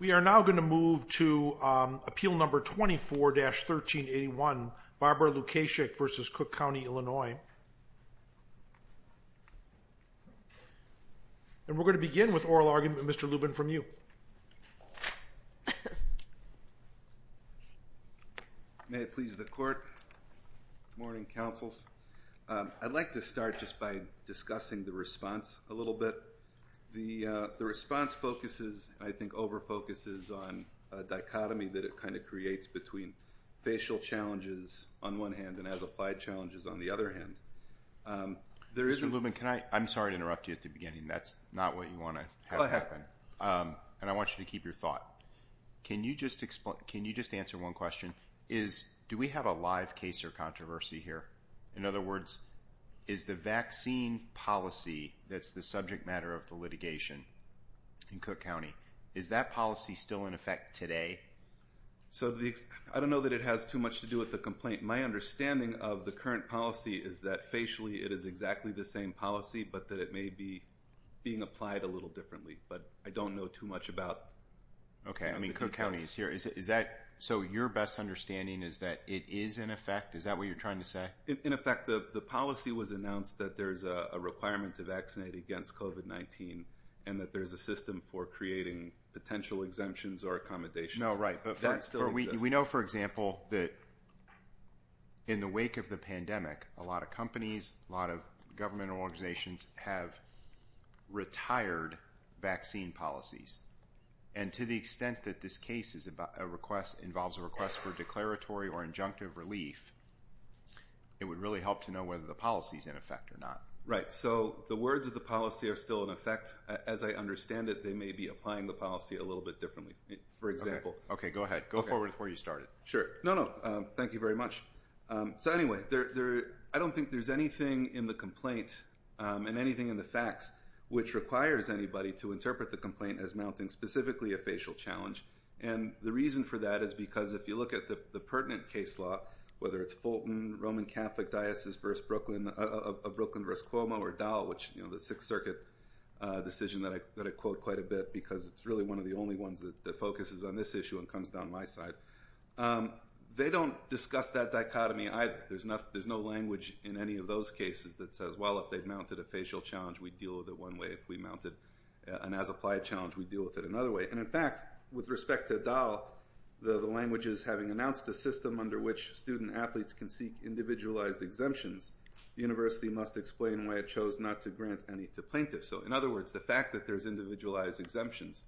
We are now going to move to Appeal No. 24-1381, Barbara Lukaszczyk v. Cook County, Illinois. And we're going to begin with oral argument, Mr. Lubin, from you. May it please the Court. Good morning, Councils. I'd like to start just by discussing the response a little bit. The response focuses, I think over-focuses, on a dichotomy that it kind of creates between facial challenges on one hand and as-applied challenges on the other hand. Mr. Lubin, I'm sorry to interrupt you at the beginning. That's not what you want to have happen. And I want you to keep your thought. Can you just answer one question? Do we have a live case or controversy here? In other words, is the vaccine policy that's the subject matter of the litigation in Cook County, is that policy still in effect today? I don't know that it has too much to do with the complaint. My understanding of the current policy is that facially it is exactly the same policy, but that it may be being applied a little differently. But I don't know too much about the details. Okay. I mean, Cook County is here. Is that, so your best understanding is that it is in effect? Is that what you're trying to say? In effect, the policy was announced that there's a requirement to vaccinate against COVID-19 and that there's a system for creating potential exemptions or accommodations. We know, for example, that in the wake of the pandemic, a lot of companies, a lot of government organizations have retired vaccine policies. And to the extent that this case involves a request for declaratory or injunctive relief, it would really help to know whether the policy is in effect or not. Right. So the words of the policy are still in effect. As I understand it, they may be applying the policy a little bit differently, for example. Okay. Go ahead. Go forward to where you started. Sure. No, no. Thank you very much. So anyway, I don't think there's anything in the complaint and anything in the facts which requires anybody to interpret the complaint as mounting specifically a facial challenge. And the reason for that is because if you look at the pertinent case law, whether it's Fulton, Roman Catholic Diocese of Brooklyn v. Cuomo, or Dahl, which, you know, the Sixth Circuit decision that I quote quite a bit because it's really one of the only ones that focuses on this issue and comes down my side. They don't discuss that dichotomy either. There's no language in any of those cases that says, well, if they've mounted a facial challenge, we deal with it one way. If we mounted an as-applied challenge, we deal with it another way. And, in fact, with respect to Dahl, the languages having announced a system under which student athletes can seek individualized exemptions, the university must explain why it chose not to grant any to plaintiffs. So, in other words, the fact that there's individualized exemptions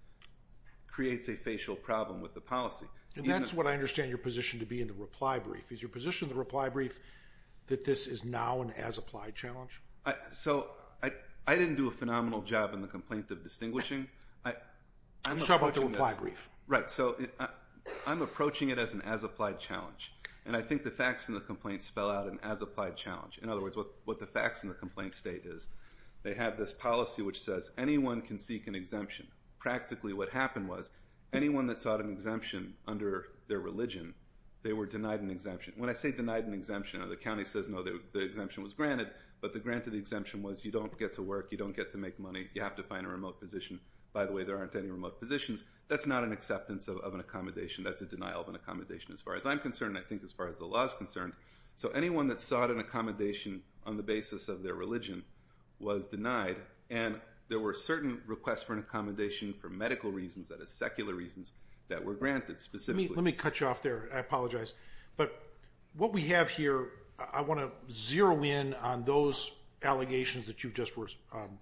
creates a facial problem with the policy. And that's what I understand your position to be in the reply brief. Is your position in the reply brief that this is now an as-applied challenge? So I didn't do a phenomenal job in the complaint of distinguishing. You show up at the reply brief. Right. So I'm approaching it as an as-applied challenge. And I think the facts in the complaint spell out an as-applied challenge. In other words, what the facts in the complaint state is they have this policy which says anyone can seek an exemption. Practically what happened was anyone that sought an exemption under their religion, they were denied an exemption. When I say denied an exemption, the county says, no, the exemption was granted. But the granted exemption was you don't get to work. You don't get to make money. You have to find a remote position. By the way, there aren't any remote positions. That's not an acceptance of an accommodation. That's a denial of an accommodation as far as I'm concerned and I think as far as the law is concerned. So anyone that sought an accommodation on the basis of their religion was denied. And there were certain requests for an accommodation for medical reasons, that is, secular reasons, that were granted specifically. Let me cut you off there. I apologize. But what we have here, I want to zero in on those allegations that you just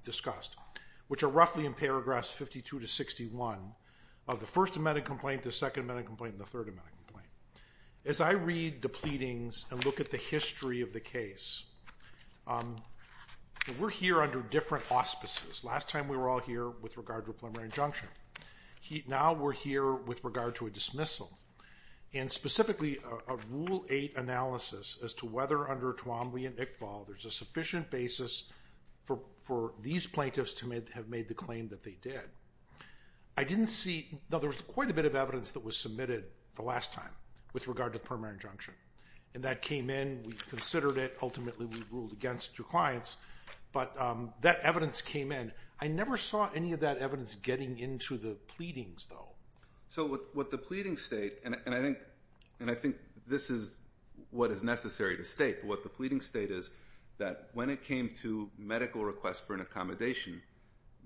discussed, which are roughly in paragraphs 52 to 61 of the First Amendment complaint, the Second Amendment complaint, and the Third Amendment complaint. As I read the pleadings and look at the history of the case, we're here under different auspices. Last time we were all here with regard to a preliminary injunction. Now we're here with regard to a dismissal. And specifically a Rule 8 analysis as to whether under Twombly and Iqbal there's a sufficient basis for these plaintiffs to have made the claim that they did. I didn't see, though there was quite a bit of evidence that was submitted the last time with regard to the preliminary injunction. And that came in, we considered it, ultimately we ruled against your clients, but that evidence came in. I never saw any of that evidence getting into the pleadings, though. So what the pleadings state, and I think this is what is necessary to state, but what the pleadings state is that when it came to medical requests for an accommodation,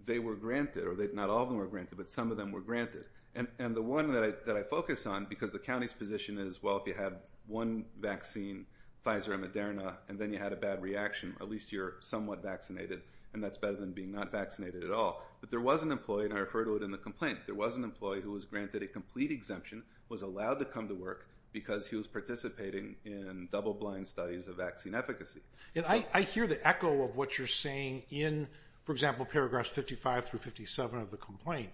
they were granted, or not all of them were granted, but some of them were granted. And the one that I focus on, because the county's position is, well, if you had one vaccine, Pfizer and Moderna, and then you had a bad reaction, at least you're somewhat vaccinated, and that's better than being not vaccinated at all. But there was an employee, and I refer to it in the complaint, there was an employee who was granted a complete exemption, was allowed to come to work because he was participating in double-blind studies of vaccine efficacy. And I hear the echo of what you're saying in, for example, paragraphs 55 through 57 of the complaint.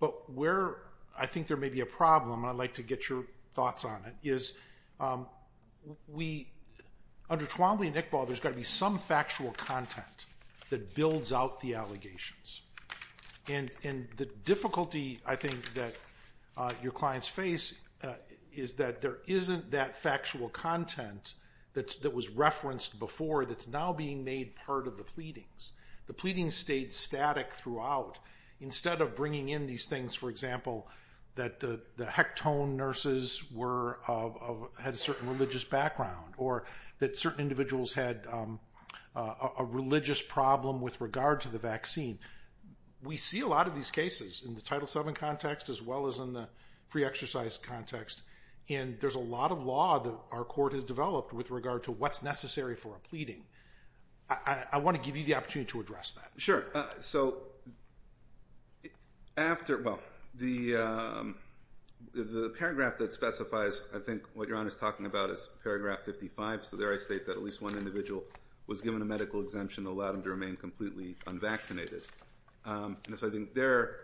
But where I think there may be a problem, and I'd like to get your thoughts on it, is under Twombly and Iqbal, there's got to be some factual content that builds out the allegations. And the difficulty, I think, that your clients face is that there isn't that factual content that was referenced before that's now being made part of the pleadings. The pleadings stayed static throughout. Instead of bringing in these things, for example, that the hectone nurses had a certain religious background, or that certain individuals had a religious problem with regard to the vaccine, we see a lot of these cases in the Title VII context as well as in the free exercise context. And there's a lot of law that our court has developed with regard to what's necessary for a pleading. I want to give you the opportunity to address that. Sure. So after, well, the paragraph that specifies, I think, what you're on is talking about is paragraph 55. So there I state that at least one individual was given a medical exemption that allowed them to remain completely unvaccinated. And so I think there,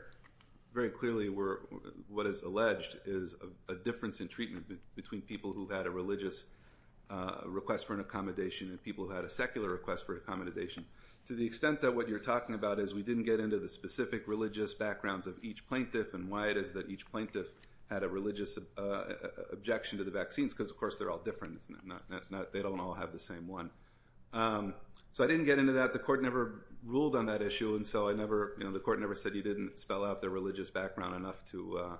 very clearly, what is alleged is a difference in treatment between people who had a religious request for an accommodation and people who had a secular request for an accommodation. To the extent that what you're talking about is we didn't get into the specific religious backgrounds of each plaintiff and why it is that each plaintiff had a religious objection to the vaccines, because, of course, they're all different. They don't all have the same one. So I didn't get into that. The court never ruled on that issue, and so the court never said you didn't spell out their religious background enough to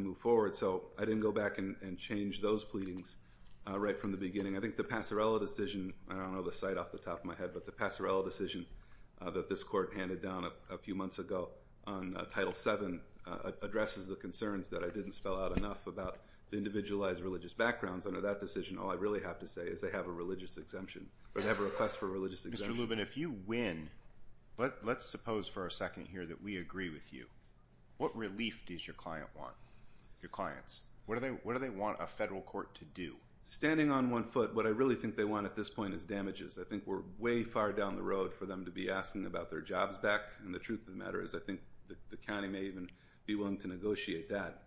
move forward. So I didn't go back and change those pleadings right from the beginning. I think the Pasarela decision, I don't know the site off the top of my head, but the Pasarela decision that this court handed down a few months ago on Title VII addresses the concerns that I didn't spell out enough about the individualized religious backgrounds. Under that decision, all I really have to say is they have a religious exemption, or they have a request for a religious exemption. Mr. Lubin, if you win, let's suppose for a second here that we agree with you. What relief does your client want, your clients? What do they want a federal court to do? Standing on one foot, what I really think they want at this point is damages. I think we're way far down the road for them to be asking about their jobs back, and the truth of the matter is I think the county may even be willing to negotiate that,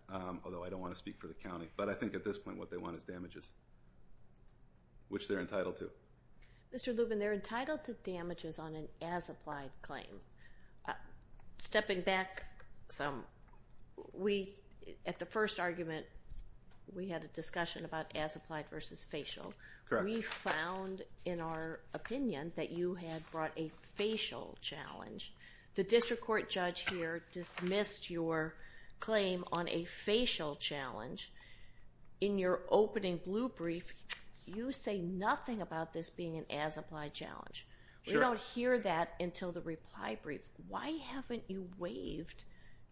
although I don't want to speak for the county. But I think at this point what they want is damages, which they're entitled to. Mr. Lubin, they're entitled to damages on an as-applied claim. Stepping back some, at the first argument we had a discussion about as-applied versus facial. We found in our opinion that you had brought a facial challenge. The district court judge here dismissed your claim on a facial challenge. In your opening blue brief, you say nothing about this being an as-applied challenge. We don't hear that until the reply brief. Why haven't you waived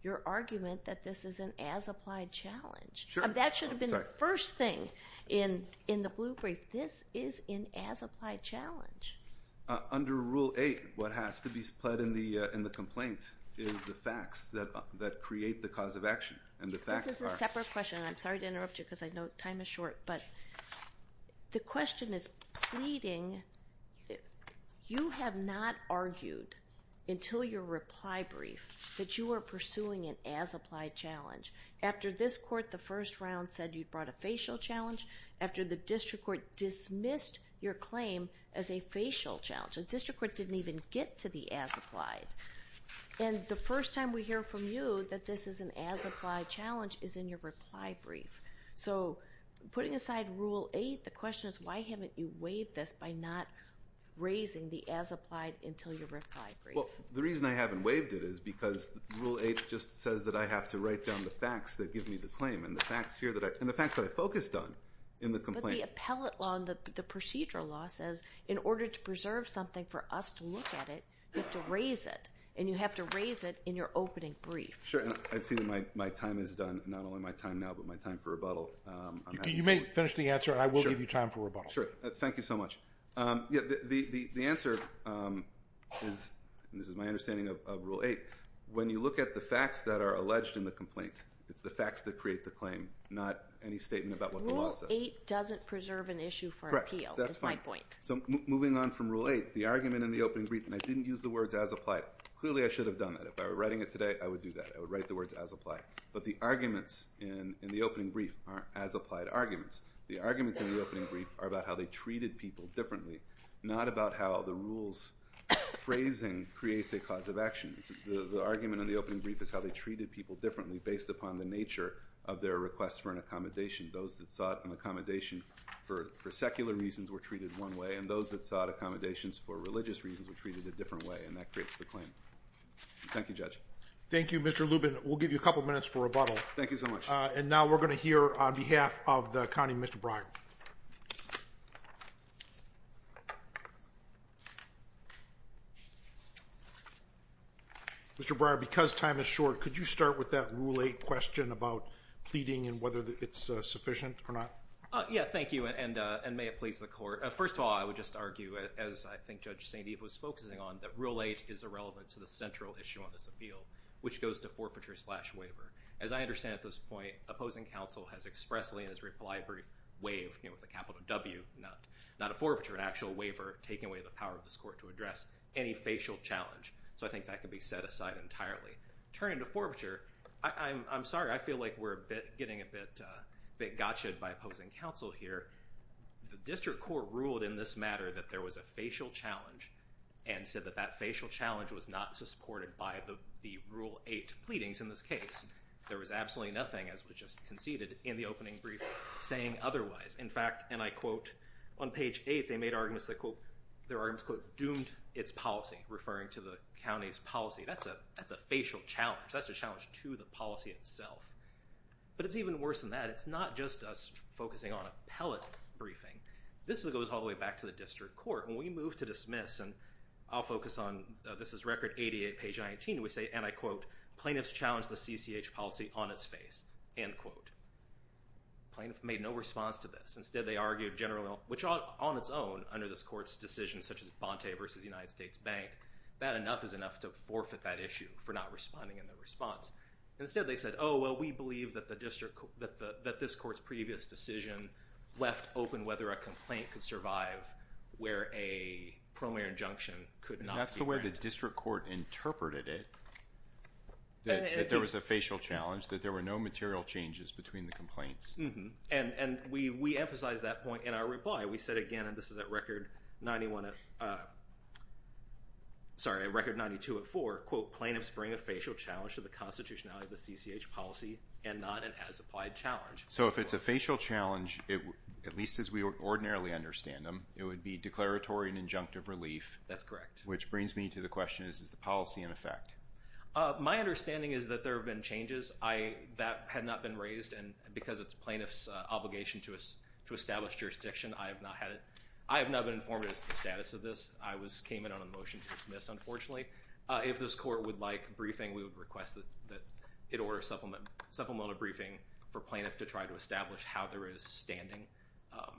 your argument that this is an as-applied challenge? That should have been the first thing in the blue brief. This is an as-applied challenge. Under Rule 8, what has to be pled in the complaint is the facts that create the cause of action. This is a separate question, and I'm sorry to interrupt you because I know time is short. But the question is pleading. You have not argued until your reply brief that you are pursuing an as-applied challenge. After this court, the first round, said you brought a facial challenge. After the district court dismissed your claim as a facial challenge. The district court didn't even get to the as-applied. And the first time we hear from you that this is an as-applied challenge is in your reply brief. So putting aside Rule 8, the question is why haven't you waived this by not raising the as-applied until your reply brief? Well, the reason I haven't waived it is because Rule 8 just says that I have to write down the facts that give me the claim. And the facts here that I, and the facts that I focused on in the complaint. But the appellate law and the procedural law says in order to preserve something for us to look at it, you have to raise it. And you have to raise it in your opening brief. I see that my time is done. Not only my time now, but my time for rebuttal. You may finish the answer, and I will give you time for rebuttal. Thank you so much. The answer is, and this is my understanding of Rule 8, when you look at the facts that are alleged in the complaint, it's the facts that create the claim, not any statement about what the law says. Rule 8 doesn't preserve an issue for appeal, is my point. So moving on from Rule 8, the argument in the opening brief, and I didn't use the words as-applied. Clearly I should have done that. If I were writing it today, I would do that. I would write the words as-applied. But the arguments in the opening brief aren't as-applied arguments. The arguments in the opening brief are about how they treated people differently, not about how the rules phrasing creates a cause of action. The argument in the opening brief is how they treated people differently based upon the nature of their request for an accommodation. Those that sought an accommodation for secular reasons were treated one way, and those that sought accommodations for religious reasons were treated a different way. And that creates the claim. Thank you, Judge. Thank you, Mr. Lubin. We'll give you a couple minutes for rebuttal. Thank you so much. And now we're going to hear on behalf of the county, Mr. Breyer. Mr. Breyer, because time is short, could you start with that Rule 8 question about pleading and whether it's sufficient or not? Yeah, thank you, and may it please the Court. First of all, I would just argue, as I think Judge St. Eve was focusing on, that Rule 8 is irrelevant to the central issue on this appeal, which goes to forfeiture slash waiver. As I understand at this point, opposing counsel has expressly in his reply brief waived, with a capital W, not a forfeiture, an actual waiver, taking away the power of this Court to address any facial challenge. So I think that can be set aside entirely. Turning to forfeiture, I'm sorry, I feel like we're getting a bit gotcha'd by opposing counsel here. The District Court ruled in this matter that there was a facial challenge and said that that facial challenge was not supported by the Rule 8 pleadings in this case. There was absolutely nothing, as was just conceded in the opening brief, saying otherwise. In fact, and I quote, on page 8, they made arguments that, quote, their arguments, quote, doomed its policy, referring to the county's policy. That's a facial challenge. That's a challenge to the policy itself. But it's even worse than that. It's not just us focusing on appellate briefing. This goes all the way back to the District Court. When we move to dismiss, and I'll focus on, this is record 88, page 19, we say, and I quote, plaintiffs challenged the CCH policy on its face, end quote. Plaintiff made no response to this. Instead, they argued generally, which on its own, under this Court's decision, such as Bontay v. United States Bank, that enough is enough to forfeit that issue for not responding in their response. Instead, they said, oh, well, we believe that this Court's previous decision left open whether a complaint could survive where a preliminary injunction could not be granted. That's the way the District Court interpreted it, that there was a facial challenge, that there were no material changes between the complaints. And we emphasized that point in our reply. We said again, and this is at record 91 at, sorry, record 92 at 4, quote, plaintiffs bring a facial challenge to the constitutionality of the CCH policy and not an as-applied challenge. So if it's a facial challenge, at least as we ordinarily understand them, it would be declaratory and injunctive relief. That's correct. Which brings me to the question, is the policy in effect? My understanding is that there have been changes that had not been raised, and because it's plaintiff's obligation to establish jurisdiction, I have not been informed as to the status of this. I came in on a motion to dismiss, unfortunately. If this court would like briefing, we would request that it order supplemental briefing for plaintiff to try to establish how there is standing,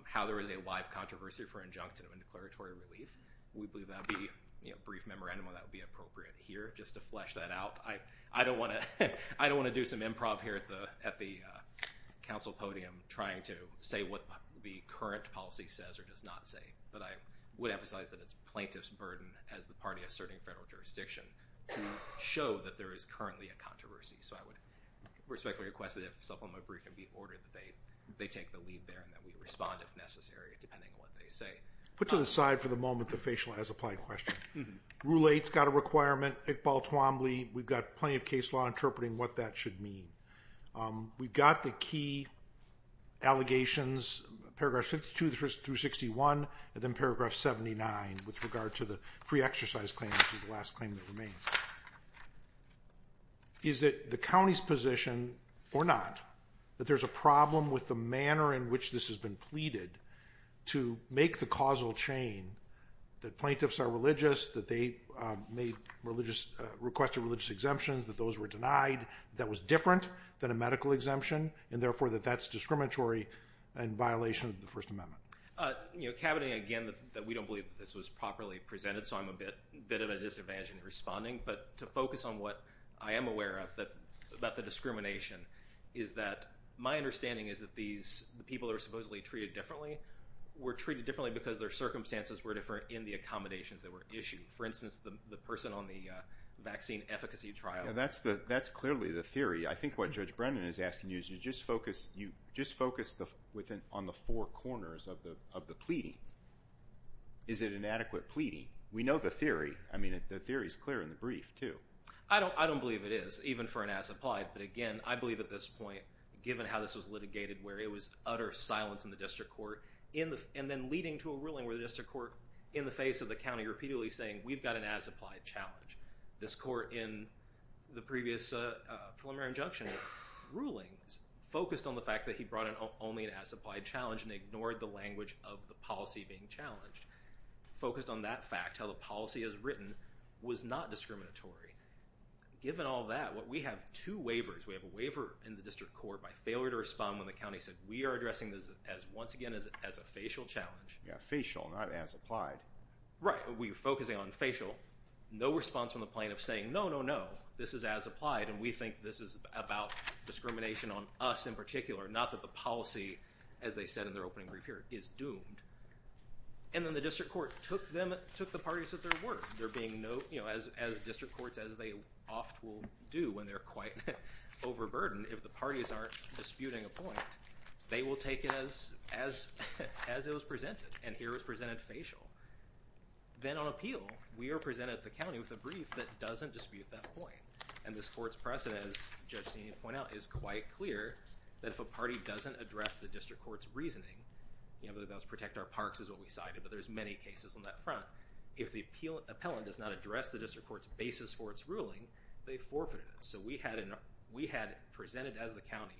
how there is a live controversy for injunction of a declaratory relief. We believe that would be a brief memorandum that would be appropriate here, just to flesh that out. I don't want to do some improv here at the council podium trying to say what the current policy says or does not say, but I would emphasize that it's plaintiff's burden, as the party asserting federal jurisdiction, to show that there is currently a controversy. So I would respectfully request that if supplemental briefing be ordered, that they take the lead there and that we respond if necessary, depending on what they say. Put to the side for the moment the facial as-applied question. Rule 8's got a requirement, Iqbal Twombly. We've got plenty of case law interpreting what that should mean. We've got the key allegations, paragraph 52 through 61, and then paragraph 79, with regard to the free exercise claim, which is the last claim that remains. Is it the county's position or not that there's a problem with the manner in which this has been pleaded to make the causal chain that plaintiffs are religious, that they requested religious exemptions, that those were denied, that that was different than a medical exemption, and therefore that that's discriminatory and in violation of the First Amendment? You know, cabinet, again, that we don't believe that this was properly presented, so I'm a bit of a disadvantage in responding, but to focus on what I am aware of about the discrimination is that my understanding is that these people are supposedly treated differently, were treated differently because their circumstances were different in the accommodations that were issued. For instance, the person on the vaccine efficacy trial. That's clearly the theory. I think what Judge Brennan is asking you is you just focus on the four corners of the pleading. Is it inadequate pleading? We know the theory. I mean, the theory is clear in the brief, too. I don't believe it is, even for an as-applied, but again, I believe at this point, given how this was litigated, where it was utter silence in the district court, and then leading to a ruling where the district court, in the face of the county, repeatedly saying, we've got an as-applied challenge. This court, in the previous preliminary injunction rulings, focused on the fact that he brought in only an as-applied challenge and ignored the language of the policy being challenged, focused on that fact, how the policy as written was not discriminatory. Given all that, we have two waivers. We have a waiver in the district court by failure to respond when the county said, we are addressing this, once again, as a facial challenge. Yeah, facial, not as-applied. Right. We were focusing on facial. No response from the plaintiff saying, no, no, no, this is as-applied, and we think this is about discrimination on us in particular, not that the policy, as they said in their opening brief here, is doomed. And then the district court took the parties at their word. They're being no, you know, as district courts, as they oft will do when they're quite overburdened, if the parties aren't disputing a point, they will take it as it was presented, and here it was presented facial. Then on appeal, we are presented at the county with a brief that doesn't dispute that point. And this court's precedent, as Judge Steen pointed out, is quite clear that if a party doesn't address the district court's reasoning, you know, that was protect our parks is what we cited, but there's many cases on that front. If the appellant does not address the district court's basis for its ruling, they forfeited it. So we had it presented as the county.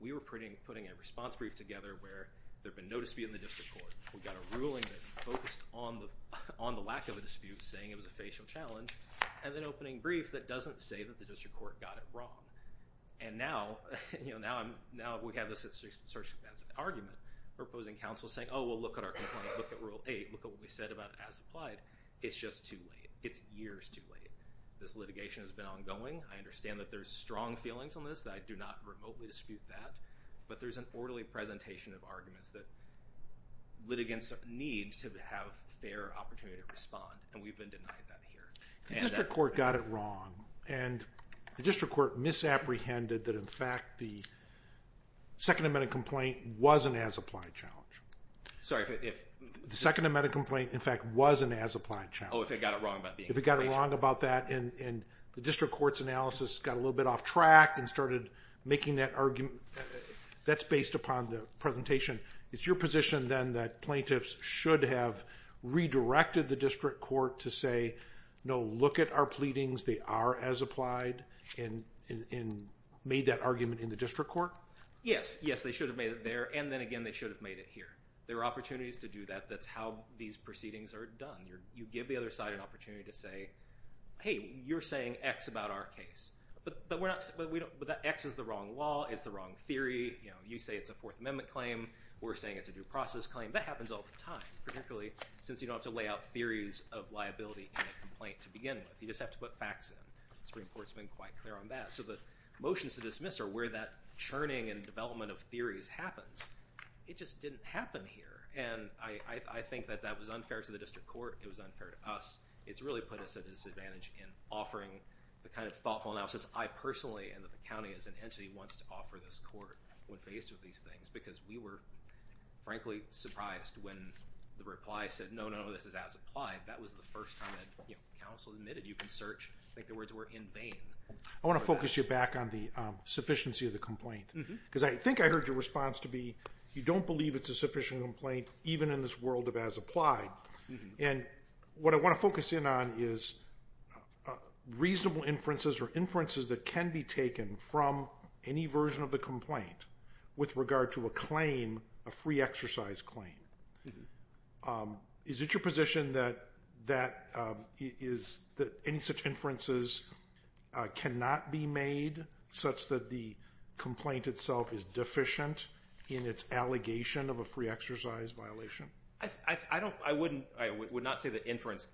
We were putting a response brief together where there had been no dispute in the district court. We got a ruling that focused on the lack of a dispute, saying it was a facial challenge, and then opening brief that doesn't say that the district court got it wrong. And now, you know, now we have this sort of argument for opposing counsel saying, oh, well, look at our complaint, look at Rule 8, look at what we said about it as applied. It's just too late. It's years too late. This litigation has been ongoing. I understand that there's strong feelings on this. I do not remotely dispute that. But there's an orderly presentation of arguments that litigants need to have fair opportunity to respond, and we've been denied that here. If the district court got it wrong, and the district court misapprehended that, in fact, the Second Amendment complaint was an as-applied challenge. Sorry, if? The Second Amendment complaint, in fact, was an as-applied challenge. Oh, if it got it wrong about being facial. If it got it wrong about that, and the district court's analysis got a little bit off track and started making that argument. That's based upon the presentation. It's your position, then, that plaintiffs should have redirected the district court to say, no, look at our pleadings, they are as applied, and made that argument in the district court? Yes. Yes, they should have made it there, and then again they should have made it here. There are opportunities to do that. That's how these proceedings are done. You give the other side an opportunity to say, hey, you're saying X about our case. But X is the wrong law. It's the wrong theory. You say it's a Fourth Amendment claim. We're saying it's a due process claim. That happens all the time, particularly since you don't have to lay out theories of liability in a complaint to begin with. You just have to put facts in. The Supreme Court's been quite clear on that. So the motions to dismiss are where that churning and development of theories happens. It just didn't happen here. And I think that that was unfair to the district court. It was unfair to us. It's really put us at a disadvantage in offering the kind of lawful analysis I personally, and the county as an entity, wants to offer this court when faced with these things. Because we were, frankly, surprised when the reply said, no, no, this is as applied. That was the first time that counsel admitted you can search. I think the words were in vain. I want to focus you back on the sufficiency of the complaint. Because I think I heard your response to be, you don't believe it's a sufficient complaint, even in this world of as applied. And what I want to focus in on is reasonable inferences or inferences that can be taken from any version of the complaint with regard to a claim, a free exercise claim. Is it your position that any such inferences cannot be made such that the complaint itself is deficient in its allegation of a free exercise violation? I would not say that inferences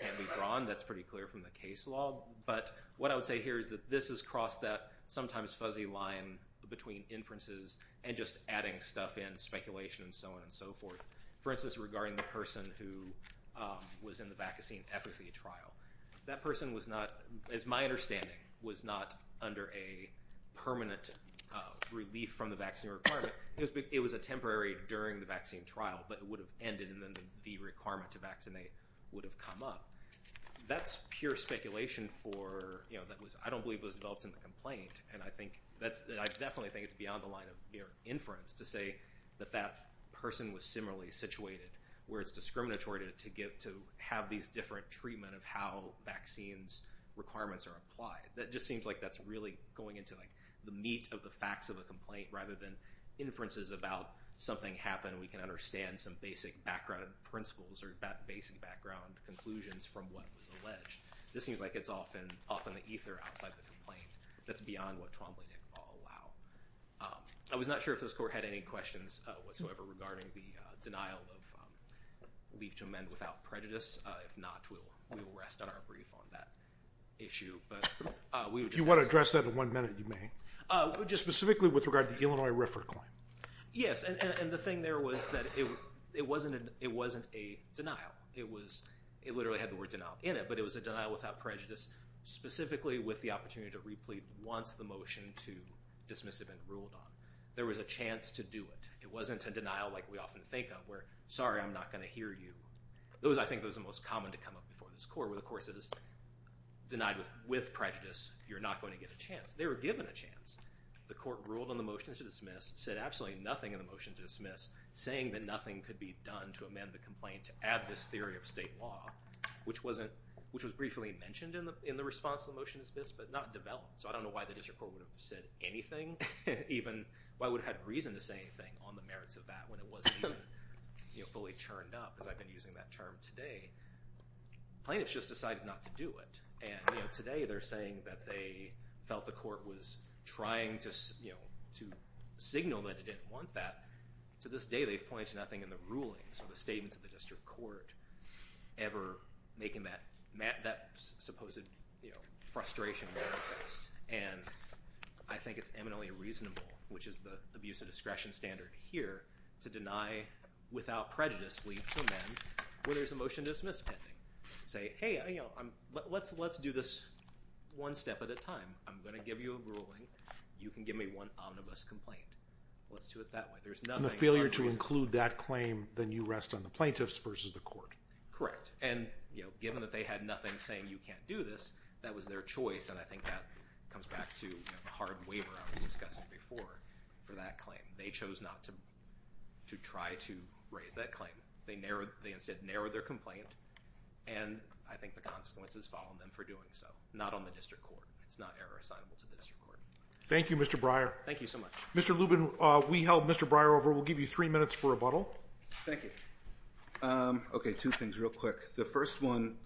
can't be drawn. That's pretty clear from the case law. But what I would say here is that this has crossed that sometimes fuzzy line between inferences and just adding stuff in, speculation and so on and so forth. For instance, regarding the person who was in the vaccine efficacy trial. That person was not, as my understanding, was not under a permanent relief from the vaccine requirement. It was a temporary during the vaccine trial, but it would have ended and then the requirement to vaccinate would have come up. That's pure speculation that I don't believe was developed in the complaint. And I definitely think it's beyond the line of inference to say that that person was similarly situated where it's discriminatory to have these different treatment of how vaccines requirements are applied. That just seems like that's really going into the meat of the facts of a complaint rather than inferences about something happened and we can understand some basic background principles or basic background conclusions from what was alleged. This seems like it's often the ether outside the complaint. That's beyond what Trombley did allow. I was not sure if this court had any questions whatsoever regarding the denial of leave to amend without prejudice. If not, we will rest on our brief on that issue. You want to address that in one minute, you may. Specifically with regard to the Illinois RFRA claim. Yes, and the thing there was that it wasn't a denial. It literally had the word denial in it, but it was a denial without prejudice specifically with the opportunity to replete once the motion to dismiss had been ruled on. There was a chance to do it. It wasn't a denial like we often think of where, sorry, I'm not going to hear you. I think that was the most common to come up before this court where the court says, denied with prejudice, you're not going to get a chance. They were given a chance. The court ruled on the motion to dismiss, said absolutely nothing in the motion to dismiss, saying that nothing could be done to amend the complaint to add this theory of state law, which was briefly mentioned in the response to the motion to dismiss, but not developed. So I don't know why the district court would have said anything, even why it would have had reason to say anything on the merits of that when it wasn't even fully churned up, as I've been using that term today. Plaintiffs just decided not to do it. And today they're saying that they felt the court was trying to signal that it didn't want that. To this day, they've pointed to nothing in the rulings or the statements of the district court ever making that supposed frustration manifest. And I think it's eminently reasonable, which is the abuse of discretion standard here, to deny without prejudice leads to amend when there's a motion to dismiss pending. Say, hey, let's do this one step at a time. I'm going to give you a ruling. You can give me one omnibus complaint. Let's do it that way. And the failure to include that claim, then you rest on the plaintiffs versus the court. Correct. And given that they had nothing saying you can't do this, that was their choice, and I think that comes back to the hard waiver I was discussing before for that claim. They chose not to try to raise that claim. They instead narrowed their complaint, and I think the consequences fall on them for doing so. Not on the district court. It's not ever assignable to the district court. Thank you, Mr. Breyer. Thank you so much. Mr. Lubin, we held Mr. Breyer over. We'll give you three minutes for rebuttal. Thank you. Okay, two things real quick. The first one,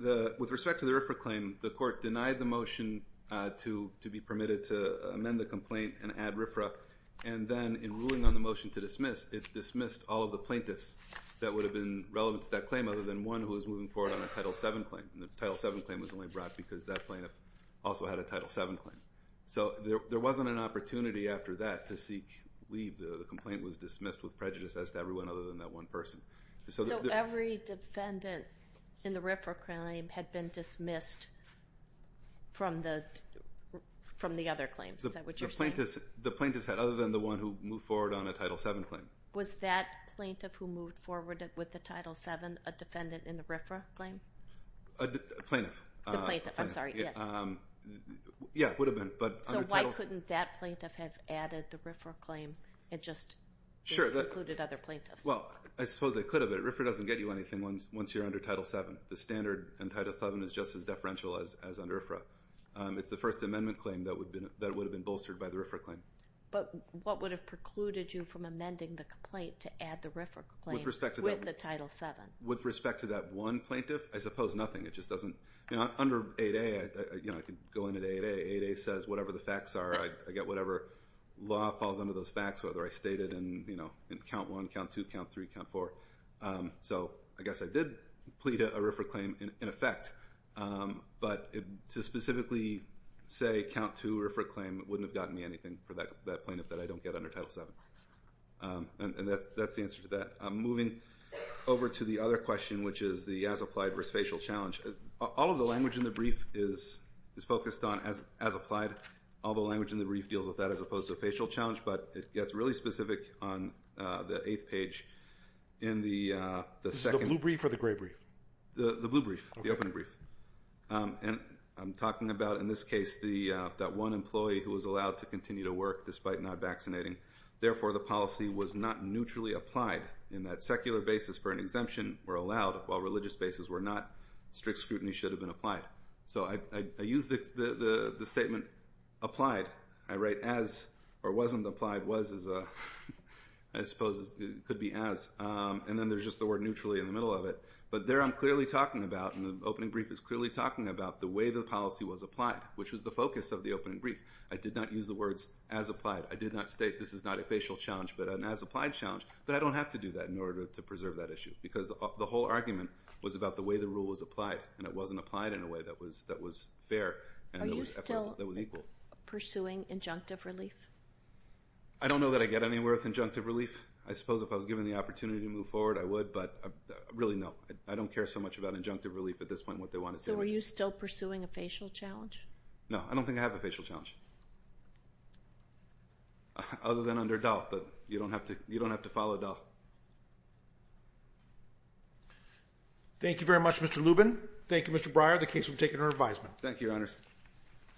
with respect to the RFRA claim, the court denied the motion to be permitted to amend the complaint and add RFRA, and then in ruling on the motion to dismiss, it dismissed all of the plaintiffs that would have been relevant to that claim other than one who was moving forward on a Title VII claim, and the Title VII claim was only brought because that plaintiff also had a Title VII claim. So there wasn't an opportunity after that to seek leave. The complaint was dismissed with prejudice as to everyone other than that one person. So every defendant in the RFRA claim had been dismissed from the other claims. Is that what you're saying? The plaintiffs had other than the one who moved forward on a Title VII claim. Was that plaintiff who moved forward with the Title VII a defendant in the RFRA claim? A plaintiff. The plaintiff, I'm sorry. Yes. Yeah, it would have been. So why couldn't that plaintiff have added the RFRA claim and just included other plaintiffs? Well, I suppose they could have, but RFRA doesn't get you anything once you're under Title VII. The standard in Title VII is just as deferential as under RFRA. It's the First Amendment claim that would have been bolstered by the RFRA claim. But what would have precluded you from amending the complaint to add the RFRA claim with the Title VII? With respect to that one plaintiff, I suppose nothing. It just doesn't. Under 8A, I could go into 8A. 8A says whatever the facts are, I get whatever law falls under those facts, whether I state it in count one, count two, count three, count four. So I guess I did plead a RFRA claim in effect, but to specifically say count two RFRA claim wouldn't have gotten me anything for that plaintiff that I don't get under Title VII. And that's the answer to that. Moving over to the other question, which is the as-applied versus facial challenge. All of the language in the brief is focused on as-applied. All the language in the brief deals with that as opposed to facial challenge, but it gets really specific on the eighth page. Is it the blue brief or the gray brief? The blue brief, the opening brief. And I'm talking about, in this case, that one employee who was allowed to continue to work despite not vaccinating. Therefore, the policy was not neutrally applied in that secular bases for an exemption were allowed, while religious bases were not. Strict scrutiny should have been applied. So I use the statement applied. I write as or wasn't applied, was as, I suppose it could be as. And then there's just the word neutrally in the middle of it. But there I'm clearly talking about, and the opening brief is clearly talking about the way the policy was applied, which was the focus of the opening brief. I did not use the words as-applied. I did not state this is not a facial challenge, but an as-applied challenge. But I don't have to do that in order to preserve that issue, because the whole argument was about the way the rule was applied, and it wasn't applied in a way that was fair. Are you still pursuing injunctive relief? I don't know that I get anywhere with injunctive relief. I suppose if I was given the opportunity to move forward, I would. But really, no. I don't care so much about injunctive relief at this point. What they want is damages. So are you still pursuing a facial challenge? No. I don't think I have a facial challenge. Other than under DOLF, but you don't have to follow DOLF. Thank you very much, Mr. Lubin. Thank you, Mr. Breyer. The case will be taken under advisement. Thank you, Your Honors.